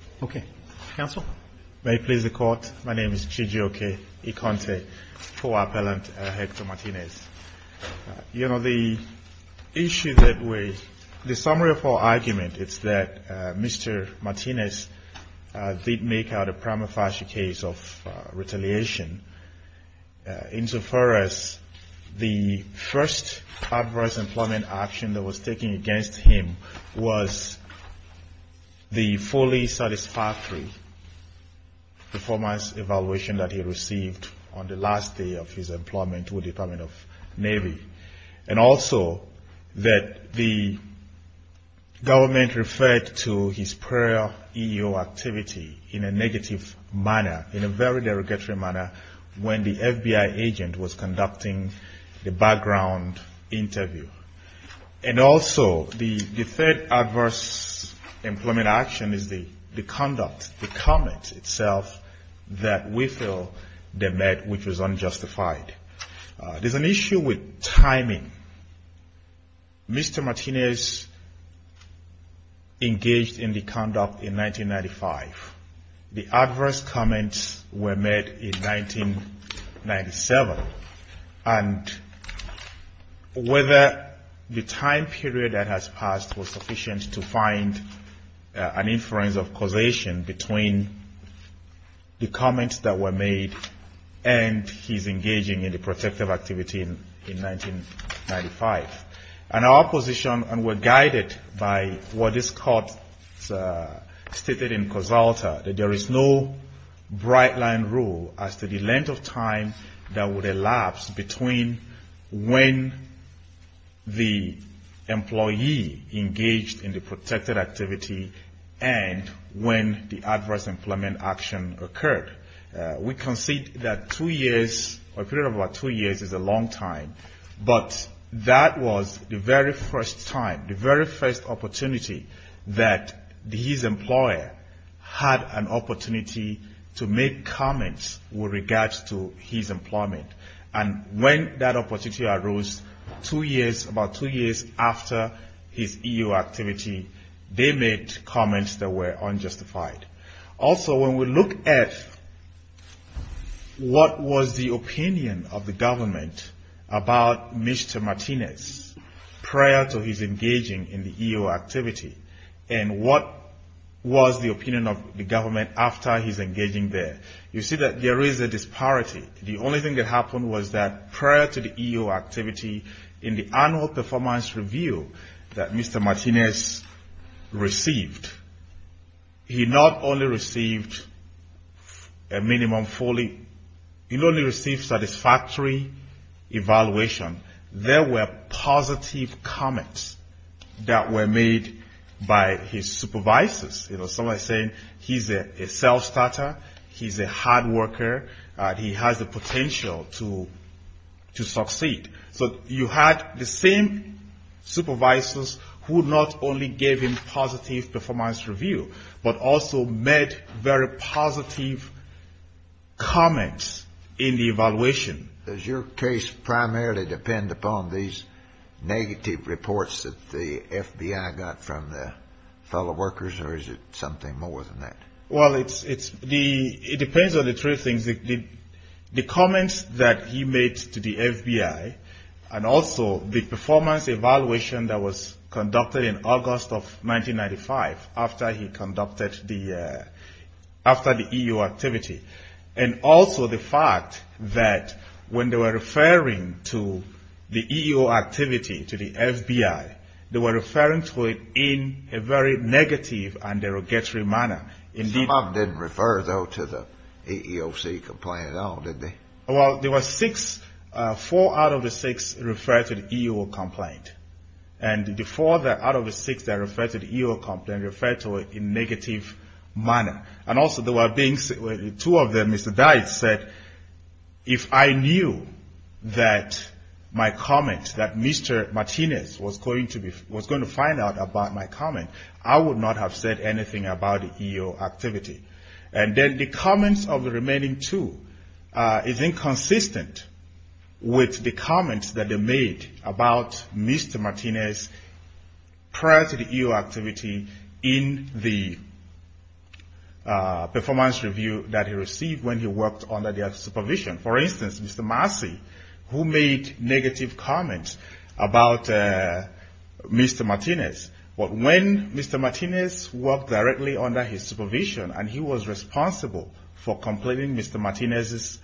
G. J. O. K. Ikonte, Co-Appellant, Hector Martinez The summary of our argument is that Mr. Martinez did make out a prima facie case of retaliation. Insofar as the first adverse employment action that was taken against him was the fully satisfactory performance evaluation that he received on the last day of his employment with the Department of Navy. And also that the government referred to his prior EEO activity in a negative manner, in a very derogatory manner when the FBI agent was conducting the background interview. And also the third adverse employment action is the conduct, the comment itself that we feel they made which was unjustified. There's an issue with timing. Mr. Martinez engaged in the conduct in 1995. The adverse comments were made in 1997. And whether the time period that has passed was sufficient to find an inference of causation between the comments that were made and his engaging in the protective activity in 1995. And our position, and we're guided by what is stated in COSALTA, that there is no bright line rule as to the length of time that would elapse between when the employee engaged in the was the very first time, the very first opportunity that his employer had an opportunity to make comments with regards to his employment. And when that opportunity arose two years, about two years after his EEO activity, they made comments that were unjustified. Also when we look at what was the opinion of the government about Mr. Martinez prior to his engaging in the EEO activity, and what was the opinion of the government after his engaging there, you see that there is a disparity. The only thing that happened was that prior to the EEO activity, in the annual performance review that Mr. Martinez received, he not only received a minimum fully, he only received satisfactory evaluation. There were positive comments that were made by his supervisors. You know, somebody saying he's a self-starter, he's a hard worker, he has the potential to succeed. So you had the same supervisors who not only gave him positive performance review, but also made very positive comments in the evaluation. Does your case primarily depend upon these negative reports that the FBI got from the fellow workers, or is it something more than that? Well, it depends on the three things. The comments that he made to the FBI, and also the performance evaluation that was conducted in August of 1995 after he conducted the EEO activity, and also the fact that when they were referring to the EEO activity to the FBI, they were referring to it in a very negative and derogatory manner. Some of them didn't refer, though, to the EEOC complaint at all, did they? Well, there were four out of the six that referred to the EEO complaint, and the four out of the six that referred to the EEO complaint referred to it in a negative manner. And also there were two of them, Mr. Dyett said, if I knew that my comment, that Mr. Martinez was going to find out about my comment, I would not have said anything about the EEO activity. And then the comments of the remaining two is inconsistent with the comments that they made about Mr. Martinez prior to the EEO activity in the performance review that he received when he worked under their supervision. For instance, Mr. Massey, who made negative comments about Mr. Martinez, when Mr. Martinez worked directly under his supervision and he was responsible for completing Mr. Martinez's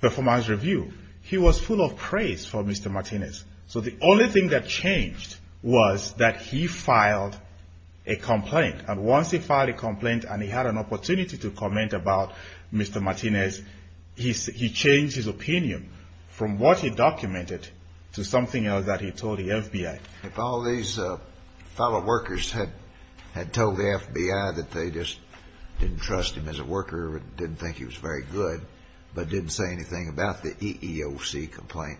performance review, he was full of praise for Mr. Martinez. So the only thing that changed was that he filed a complaint. And once he filed a complaint and he had an opportunity to comment about Mr. Martinez, he changed his opinion from what he documented to something else that he told the FBI. If all these fellow workers had told the FBI that they just didn't trust him as a worker or didn't think he was very good, but didn't say anything about the EEOC complaint,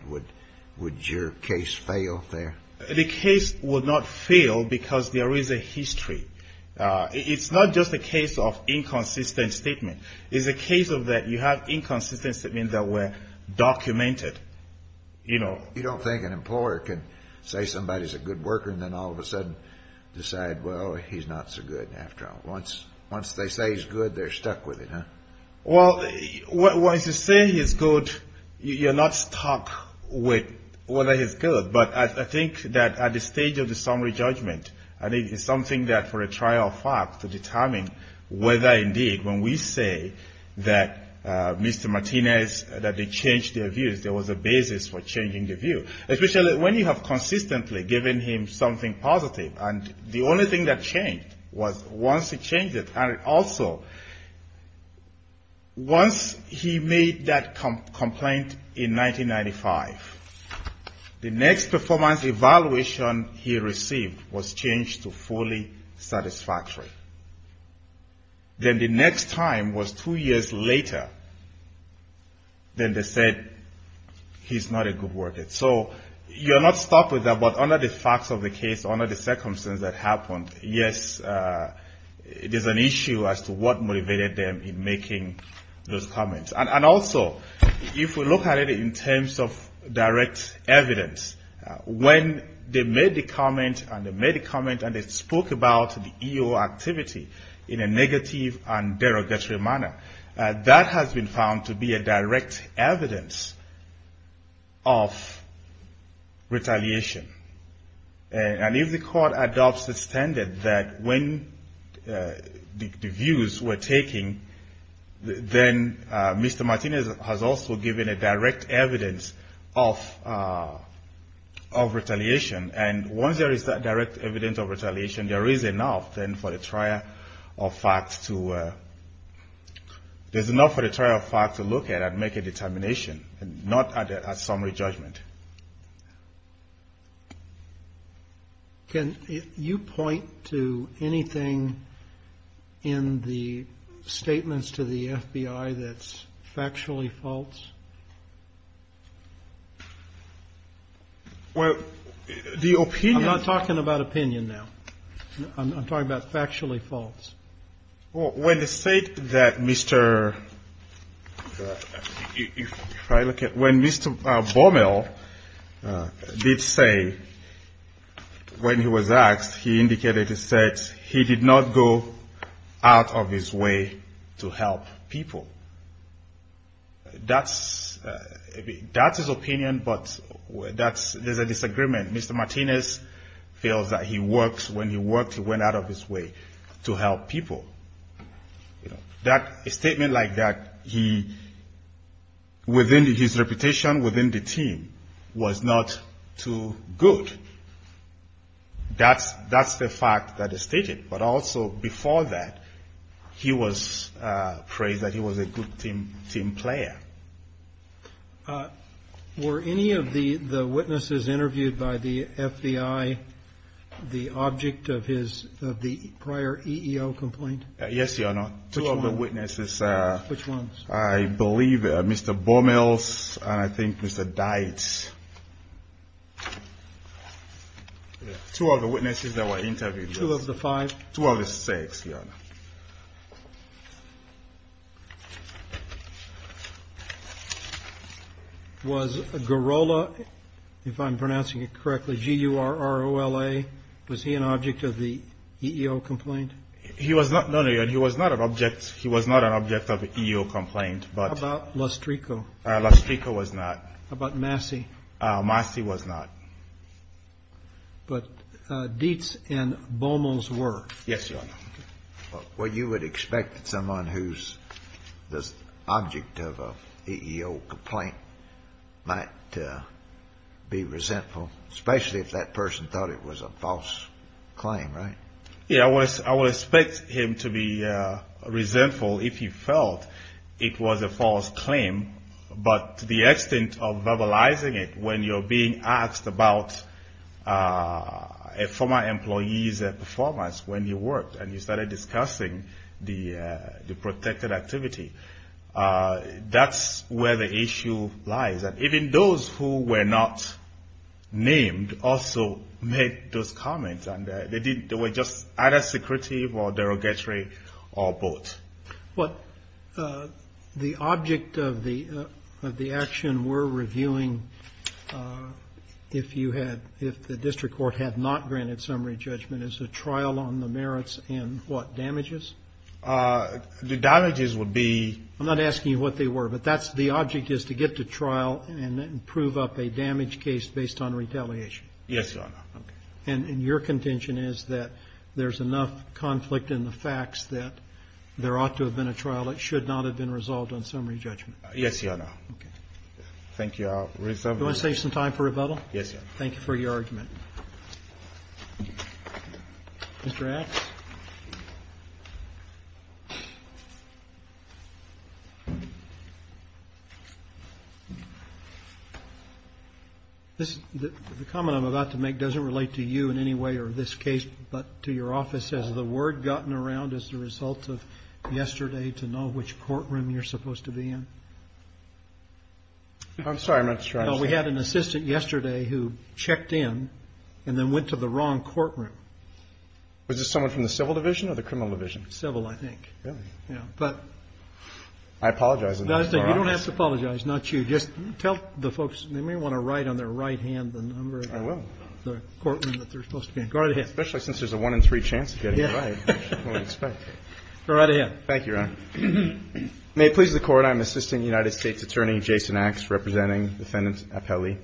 would your case fail there? The case would not fail because there is a history. It's not just a case of inconsistent statement. It's a case of that you have inconsistent statements that were documented, you know. So you don't think an employer can say somebody is a good worker and then all of a sudden decide, well, he's not so good after all. Once they say he's good, they're stuck with it, huh? Well, once you say he's good, you're not stuck with whether he's good. But I think that at the stage of the summary judgment, I think it's something that for a trial fact to determine whether indeed when we say that Mr. Martinez, that they changed their views, there was a basis for changing their view. Especially when you have consistently given him something positive and the only thing that changed was once he changed it. And also, once he made that complaint in 1995, the next performance evaluation he received was changed to fully satisfactory. Then the next time was two years later, then they said he's not a good worker. So you're not stuck with that, but under the facts of the case, under the circumstances that happened, yes, it is an issue as to what motivated them in making those comments. And also, if we look at it in terms of direct evidence, when they made the comment and they spoke about the EO activity in a negative and derogatory manner, that has been found to be a direct evidence of retaliation. And if the court adopts the standard that when the views were taken, then Mr. Martinez has also given a direct evidence of retaliation. And once there is that direct evidence of retaliation, there is enough then for the trial fact to look at and make a determination, not a summary judgment. Can you point to anything in the statements to the FBI that's factually false? Well, the opinion I'm talking about opinion now, I'm talking about factually false. Well, when they said that Mr. Bormel did say when he was asked, he indicated he said he did not go out of his way to help people. That's his opinion, but there's a disagreement. Mr. Martinez feels that when he worked, he went out of his way to help people. That statement like that, his reputation within the team was not too good. That's the fact that is stated. But also, before that, he was praised that he was a good team player. Were any of the witnesses interviewed by the FBI the object of the prior EEO complaint? Yes, Your Honor. Which ones? Two of the witnesses. Which ones? I believe Mr. Bormel's and I think Mr. Dietz. Two of the witnesses that were interviewed. Two of the five? Two of the six, Your Honor. Was Garola, if I'm pronouncing it correctly, G-U-R-R-O-L-A, was he an object of the EEO complaint? No, no, Your Honor. He was not an object of the EEO complaint. How about Lostrico? Lostrico was not. How about Massey? Massey was not. But Dietz and Bormel's were. Yes, Your Honor. Well, you would expect that someone who's the object of an EEO complaint might be resentful, especially if that person thought it was a false claim, right? Yes, I would expect him to be resentful if he felt it was a false claim, but to the extent of verbalizing it when you're being asked about a former employee's performance when you worked and you started discussing the protected activity, that's where the issue lies. And even those who were not named also made those comments, and they were just either secretive or derogatory or both. But the object of the action we're reviewing, if the district court had not granted summary judgment, is a trial on the merits and what, damages? The damages would be — I'm not asking you what they were, but that's — the object is to get to trial and prove up a damage case based on retaliation. Yes, Your Honor. Okay. And your contention is that there's enough conflict in the facts that there ought to have been a trial that should not have been resolved on summary judgment? Yes, Your Honor. Okay. Thank you. I'll reserve my time. You want to save some time for rebuttal? Yes, Your Honor. Thank you for your argument. Mr. Axe? The comment I'm about to make doesn't relate to you in any way or this case, but to your office. Has the word gotten around as a result of yesterday to know which courtroom you're supposed to be in? I'm sorry. Well, we had an assistant yesterday who checked in and then went to the wrong courtroom. Was this someone from the civil division or the criminal division? Civil, I think. Really? Yeah. But — I apologize. You don't have to apologize. Not you. Just tell the folks, they may want to write on their right hand the number — I will. — of the courtroom that they're supposed to be in. Go right ahead. Especially since there's a one-in-three chance of getting it right, which is what we expect. Go right ahead. Thank you, Your Honor. May it please the Court, I'm Assistant United States Attorney Jason Axe representing Defendant Appelli.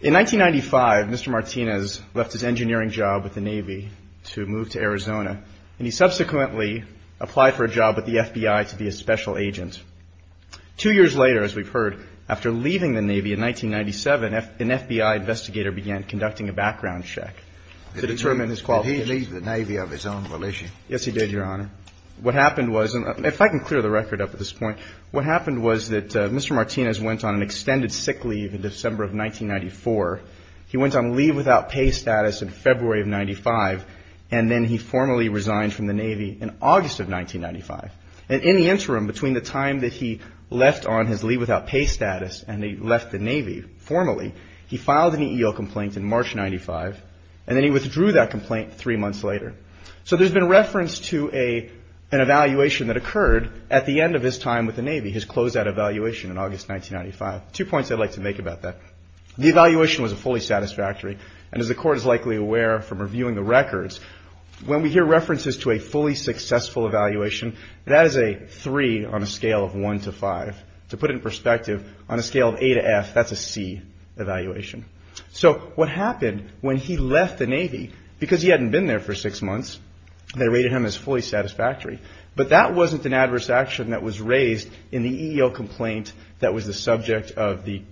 In 1995, Mr. Martinez left his engineering job with the Navy to move to Arizona, and he subsequently applied for a job with the FBI to be a special agent. Two years later, as we've heard, after leaving the Navy in 1997, an FBI investigator began conducting a background check to determine his qualifications. Did he leave the Navy of his own volition? Yes, he did, Your Honor. What happened was, and if I can clear the record up at this point, what happened was that Mr. Martinez went on an extended sick leave in December of 1994. He went on leave without pay status in February of 95, and then he formally resigned from the Navy in August of 1995. And in the interim, between the time that he left on his leave without pay status and he left the Navy formally, he filed an EEO complaint in March 95, and then he withdrew that complaint three months later. So there's been reference to an evaluation that occurred at the end of his time with the Navy, his closeout evaluation in August 1995. Two points I'd like to make about that. The evaluation was a fully satisfactory, and as the Court is likely aware from reviewing the records, when we hear references to a fully successful evaluation, that is a 3 on a scale of 1 to 5. To put it in perspective, on a scale of A to F, that's a C evaluation. So what happened when he left the Navy, because he hadn't been there for six months, they rated him as fully satisfactory, but that wasn't an adverse action that was raised in the EEO complaint that was the subject of the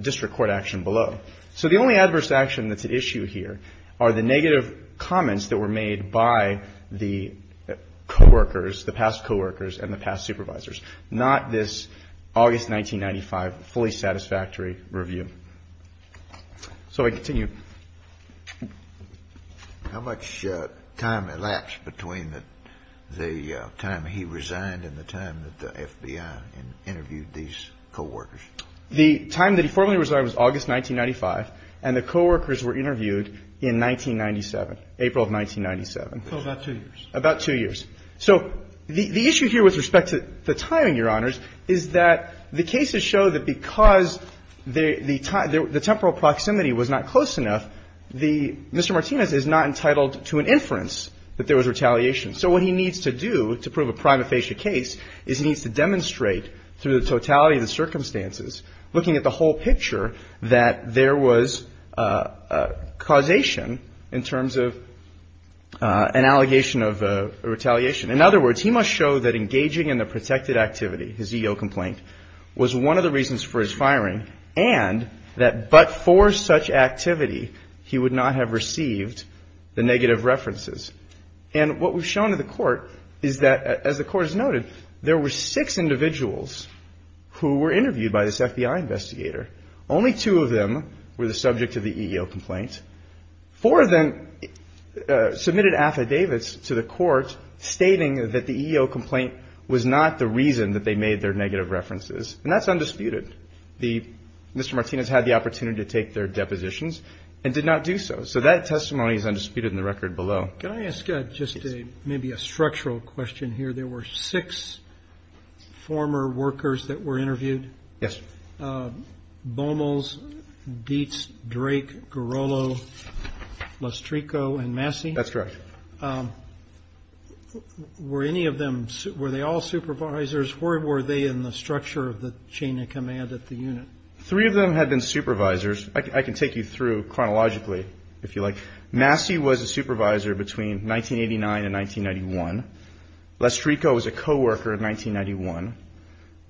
district court action below. So the only adverse action that's at issue here are the negative comments that were made by the coworkers, the past coworkers and the past supervisors, not this August 1995 fully satisfactory review. So I continue. How much time elapsed between the time he resigned and the time that the FBI interviewed these coworkers? The time that he formally resigned was August 1995, and the coworkers were interviewed in 1997, April of 1997. So about two years. About two years. So the issue here with respect to the timing, Your Honors, is that the cases show that because the temporal proximity was not close enough, the Mr. Martinez is not entitled to an inference that there was retaliation. So what he needs to do to prove a prima facie case is he needs to demonstrate through the totality of the circumstances, looking at the whole picture, that there was causation in terms of an allegation of retaliation. In other words, he must show that engaging in the protected activity, his EEO complaint, was one of the reasons for his firing and that but for such activity he would not have received the negative references. And what we've shown to the court is that, as the court has noted, there were six individuals who were interviewed by this FBI investigator. Only two of them were the subject of the EEO complaint. Four of them submitted affidavits to the court stating that the EEO complaint was not the reason that they made their negative references, and that's undisputed. Mr. Martinez had the opportunity to take their depositions and did not do so. So that testimony is undisputed in the record below. Can I ask just maybe a structural question here? There were six former workers that were interviewed? Bomels, Dietz, Drake, Garolo, Lostrico, and Massey? That's correct. Were any of them, were they all supervisors? Or were they in the structure of the chain of command at the unit? Three of them had been supervisors. I can take you through chronologically, if you like. Massey was a supervisor between 1989 and 1991. Lostrico was a coworker in 1991.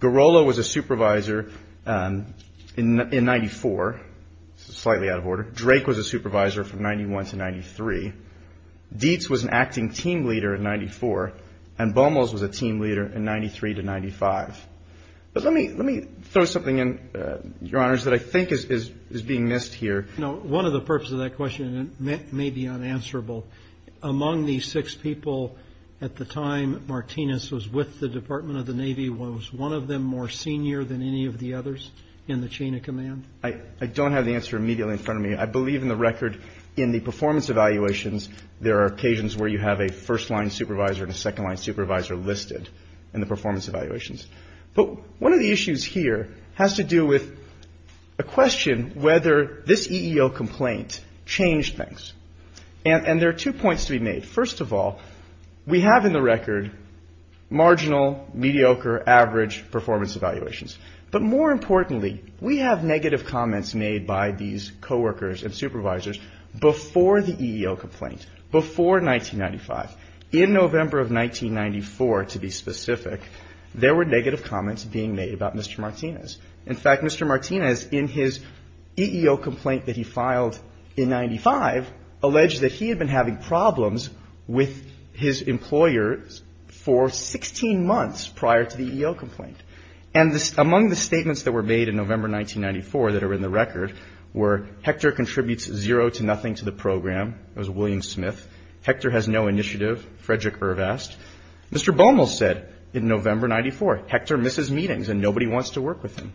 Garolo was a supervisor in 94, slightly out of order. Drake was a supervisor from 91 to 93. Dietz was an acting team leader in 94. And Bomels was a team leader in 93 to 95. But let me throw something in, Your Honors, that I think is being missed here. No. One of the purposes of that question, and it may be unanswerable, among these six people at the time Martinez was with the Department of the Navy, was one of them more senior than any of the others in the chain of command? I don't have the answer immediately in front of me. I believe in the record in the performance evaluations, there are occasions where you have a first-line supervisor and a second-line supervisor listed in the performance evaluations. But one of the issues here has to do with a question whether this EEO complaint changed things. And there are two points to be made. First of all, we have in the record marginal, mediocre, average performance evaluations. But more importantly, we have negative comments made by these coworkers and supervisors before the EEO complaint, before 1995. In November of 1994, to be specific, there were negative comments being made about Mr. Martinez. In fact, Mr. Martinez, in his EEO complaint that he filed in 95, alleged that he had been having problems with his employer for 16 months prior to the EEO complaint. And among the statements that were made in November 1994 that are in the record were Hector contributes zero to nothing to the program. It was William Smith. Hector has no initiative, Frederick Irvest. Mr. Bummel said in November 1994, Hector misses meetings and nobody wants to work with him.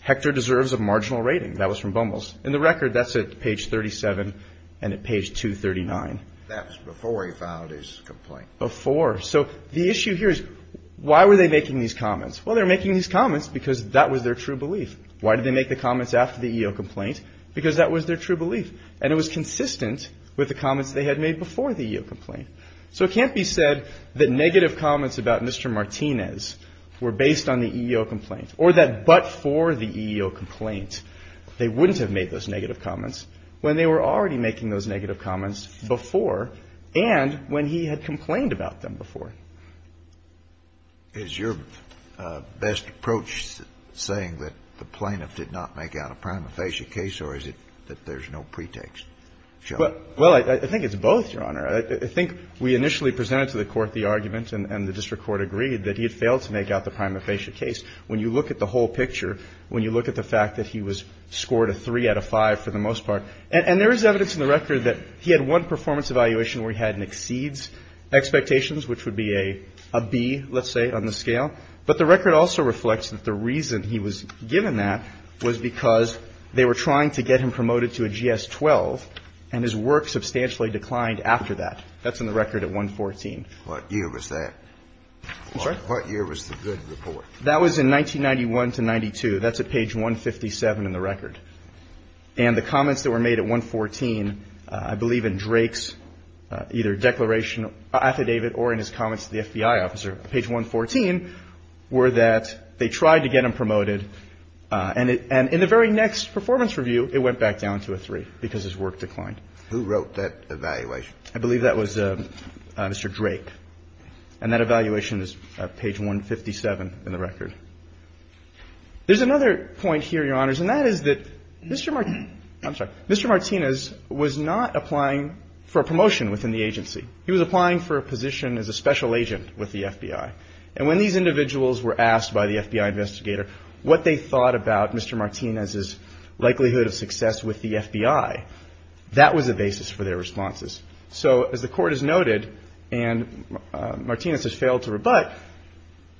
Hector deserves a marginal rating. That was from Bummel's. In the record, that's at page 37 and at page 239. That was before he filed his complaint. Before. So the issue here is why were they making these comments? Well, they were making these comments because that was their true belief. Why did they make the comments after the EEO complaint? Because that was their true belief. And it was consistent with the comments they had made before the EEO complaint. So it can't be said that negative comments about Mr. Martinez were based on the EEO complaint or that but for the EEO complaint they wouldn't have made those negative comments when they were already making those negative comments before and when he had complained about them before. Is your best approach saying that the plaintiff did not make out a prima facie case or is it that there's no pretext? Well, I think it's both, Your Honor. I think we initially presented to the Court the argument and the district court agreed that he had failed to make out the prima facie case. When you look at the whole picture, when you look at the fact that he was scored a 3 out of 5 for the most part, and there is evidence in the record that he had one performance evaluation where he had an exceeds expectations, which would be a B, let's say, on the scale. But the record also reflects that the reason he was given that was because they were trying to get him promoted to a GS-12 and his work substantially declined after that. That's in the record at 114. What year was that? I'm sorry? What year was the good report? That was in 1991 to 92. That's at page 157 in the record. And the comments that were made at 114, I believe in Drake's either declaration affidavit or in his comments to the FBI officer, page 114, were that they tried to get him promoted. And in the very next performance review, it went back down to a 3 because his work declined. Who wrote that evaluation? I believe that was Mr. Drake. And that evaluation is at page 157 in the record. There's another point here, Your Honors, and that is that Mr. Martin – I'm sorry. Mr. Martinez was not applying for a promotion within the agency. He was applying for a position as a special agent with the FBI. And when these individuals were asked by the FBI investigator what they thought about Mr. Martinez's likelihood of success with the FBI, that was a basis for their responses. So as the Court has noted, and Martinez has failed to rebut,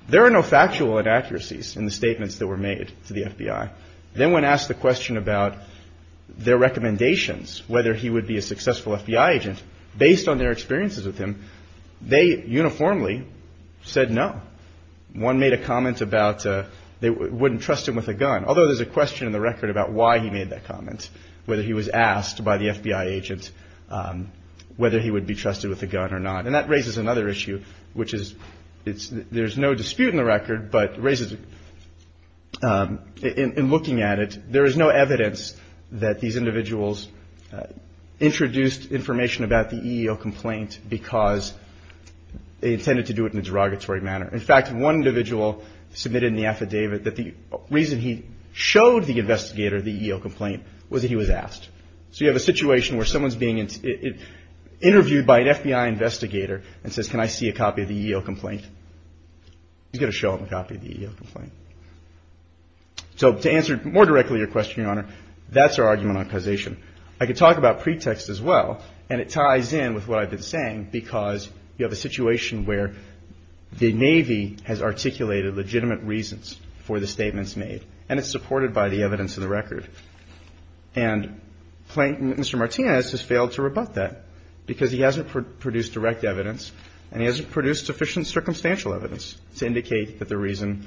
there are no factual inaccuracies in the statements that were made to the FBI. Then when asked the question about their recommendations, whether he would be a successful FBI agent, based on their experiences with him, they uniformly said no. One made a comment about they wouldn't trust him with a gun, although there's a question in the record about why he made that comment, whether he was asked by the FBI agent whether he would be trusted with a gun or not. And that raises another issue, which is there's no dispute in the record, but it raises – in looking at it, there is no evidence that these individuals introduced information about the EEO complaint because they intended to do it in a derogatory manner. In fact, one individual submitted in the affidavit that the reason he showed the investigator the EEO complaint was that he was asked. So you have a situation where someone's being interviewed by an FBI investigator and says, can I see a copy of the EEO complaint? He's going to show him a copy of the EEO complaint. So to answer more directly your question, Your Honor, that's our argument on causation. I could talk about pretext as well, and it ties in with what I've been saying because you have a situation where the Navy has articulated legitimate reasons for the statements made, and it's supported by the evidence in the record. And Mr. Martinez has failed to rebut that because he hasn't produced direct evidence and he hasn't produced sufficient circumstantial evidence to indicate that the reason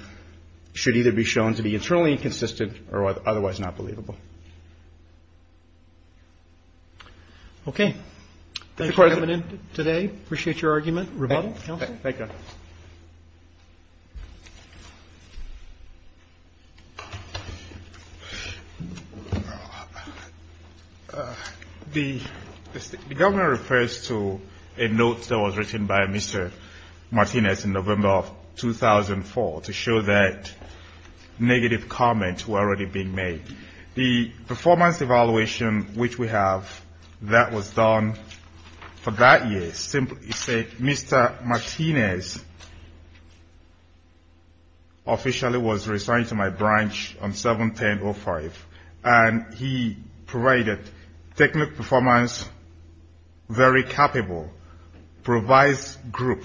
should either be shown to be internally inconsistent or otherwise not believable. Okay. Thank you for coming in today. Appreciate your argument. Rebuttal, counsel? Thank you. The governor refers to a note that was written by Mr. Martinez in November of 2004 to show that negative comments were already being made. The performance evaluation which we have that was done for that year simply said, Mr. Martinez officially was assigned to my branch on 7-10-05, and he provided technical performance very capable, provides group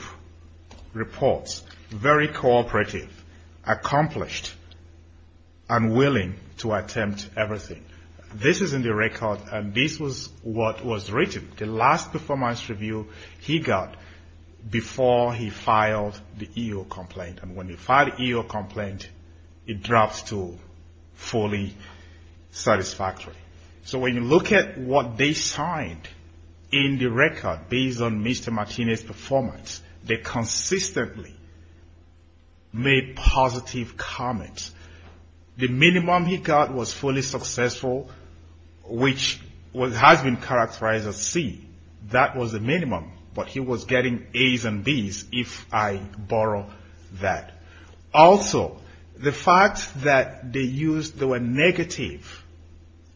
reports very cooperative, accomplished, and willing to attempt everything. This is in the record, and this was what was written. The last performance review he got before he filed the EO complaint. And when he filed the EO complaint, it drops to fully satisfactory. So when you look at what they signed in the record based on Mr. Martinez' performance, they consistently made positive comments. The minimum he got was fully successful, which has been characterized as C. That was the minimum. But he was getting As and Bs if I borrow that. Also, the fact that they were negative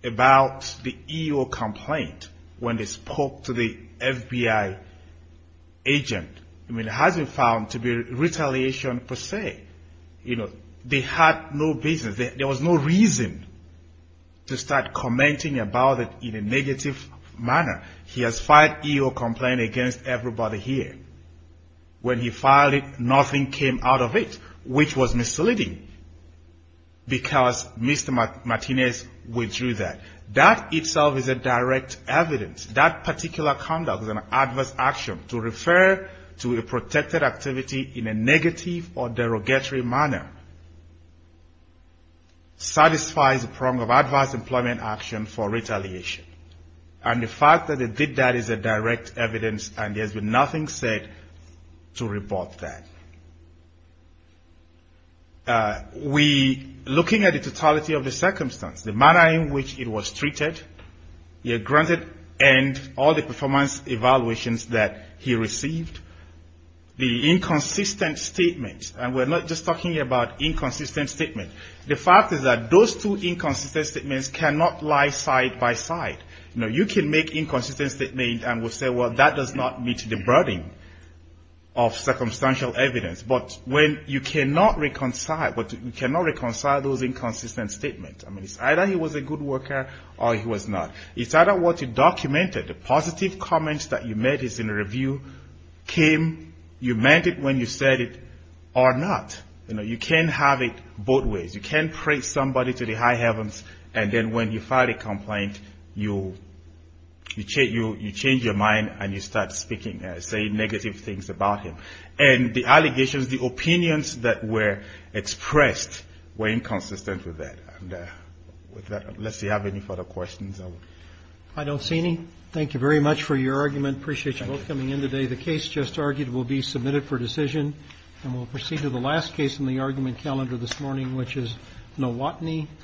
about the EO complaint when they spoke to the FBI agent, I mean, it hasn't been found to be retaliation per se. You know, they had no business. There was no reason to start commenting about it in a negative manner. He has filed EO complaint against everybody here. When he filed it, nothing came out of it, which was misleading because Mr. Martinez withdrew that. That itself is a direct evidence. That particular conduct was an adverse action. To refer to a protected activity in a negative or derogatory manner satisfies the prong of adverse employment action for retaliation. And the fact that they did that is a direct evidence, and there's been nothing said to report that. We, looking at the totality of the circumstance, the manner in which it was treated, granted and all the performance evaluations that he received, the inconsistent statements, and we're not just talking about inconsistent statements. The fact is that those two inconsistent statements cannot lie side by side. You know, you can make inconsistent statements and we'll say, well, that does not meet the burden of circumstantial evidence. But when you cannot reconcile those inconsistent statements, I mean, it's either he was a good worker or he was not. It's either what you documented, the positive comments that you made in the review came, you meant it when you said it, or not. You know, you can't have it both ways. You can't praise somebody to the high heavens, and then when you file a complaint, you change your mind and you start speaking, saying negative things about him. And the allegations, the opinions that were expressed were inconsistent with that. And with that, unless you have any further questions. I don't see any. Thank you very much for your argument. Appreciate you both coming in today. The case just argued will be submitted for decision. And we'll proceed to the last case in the argument calendar this morning, which is no Watney versus Johnson.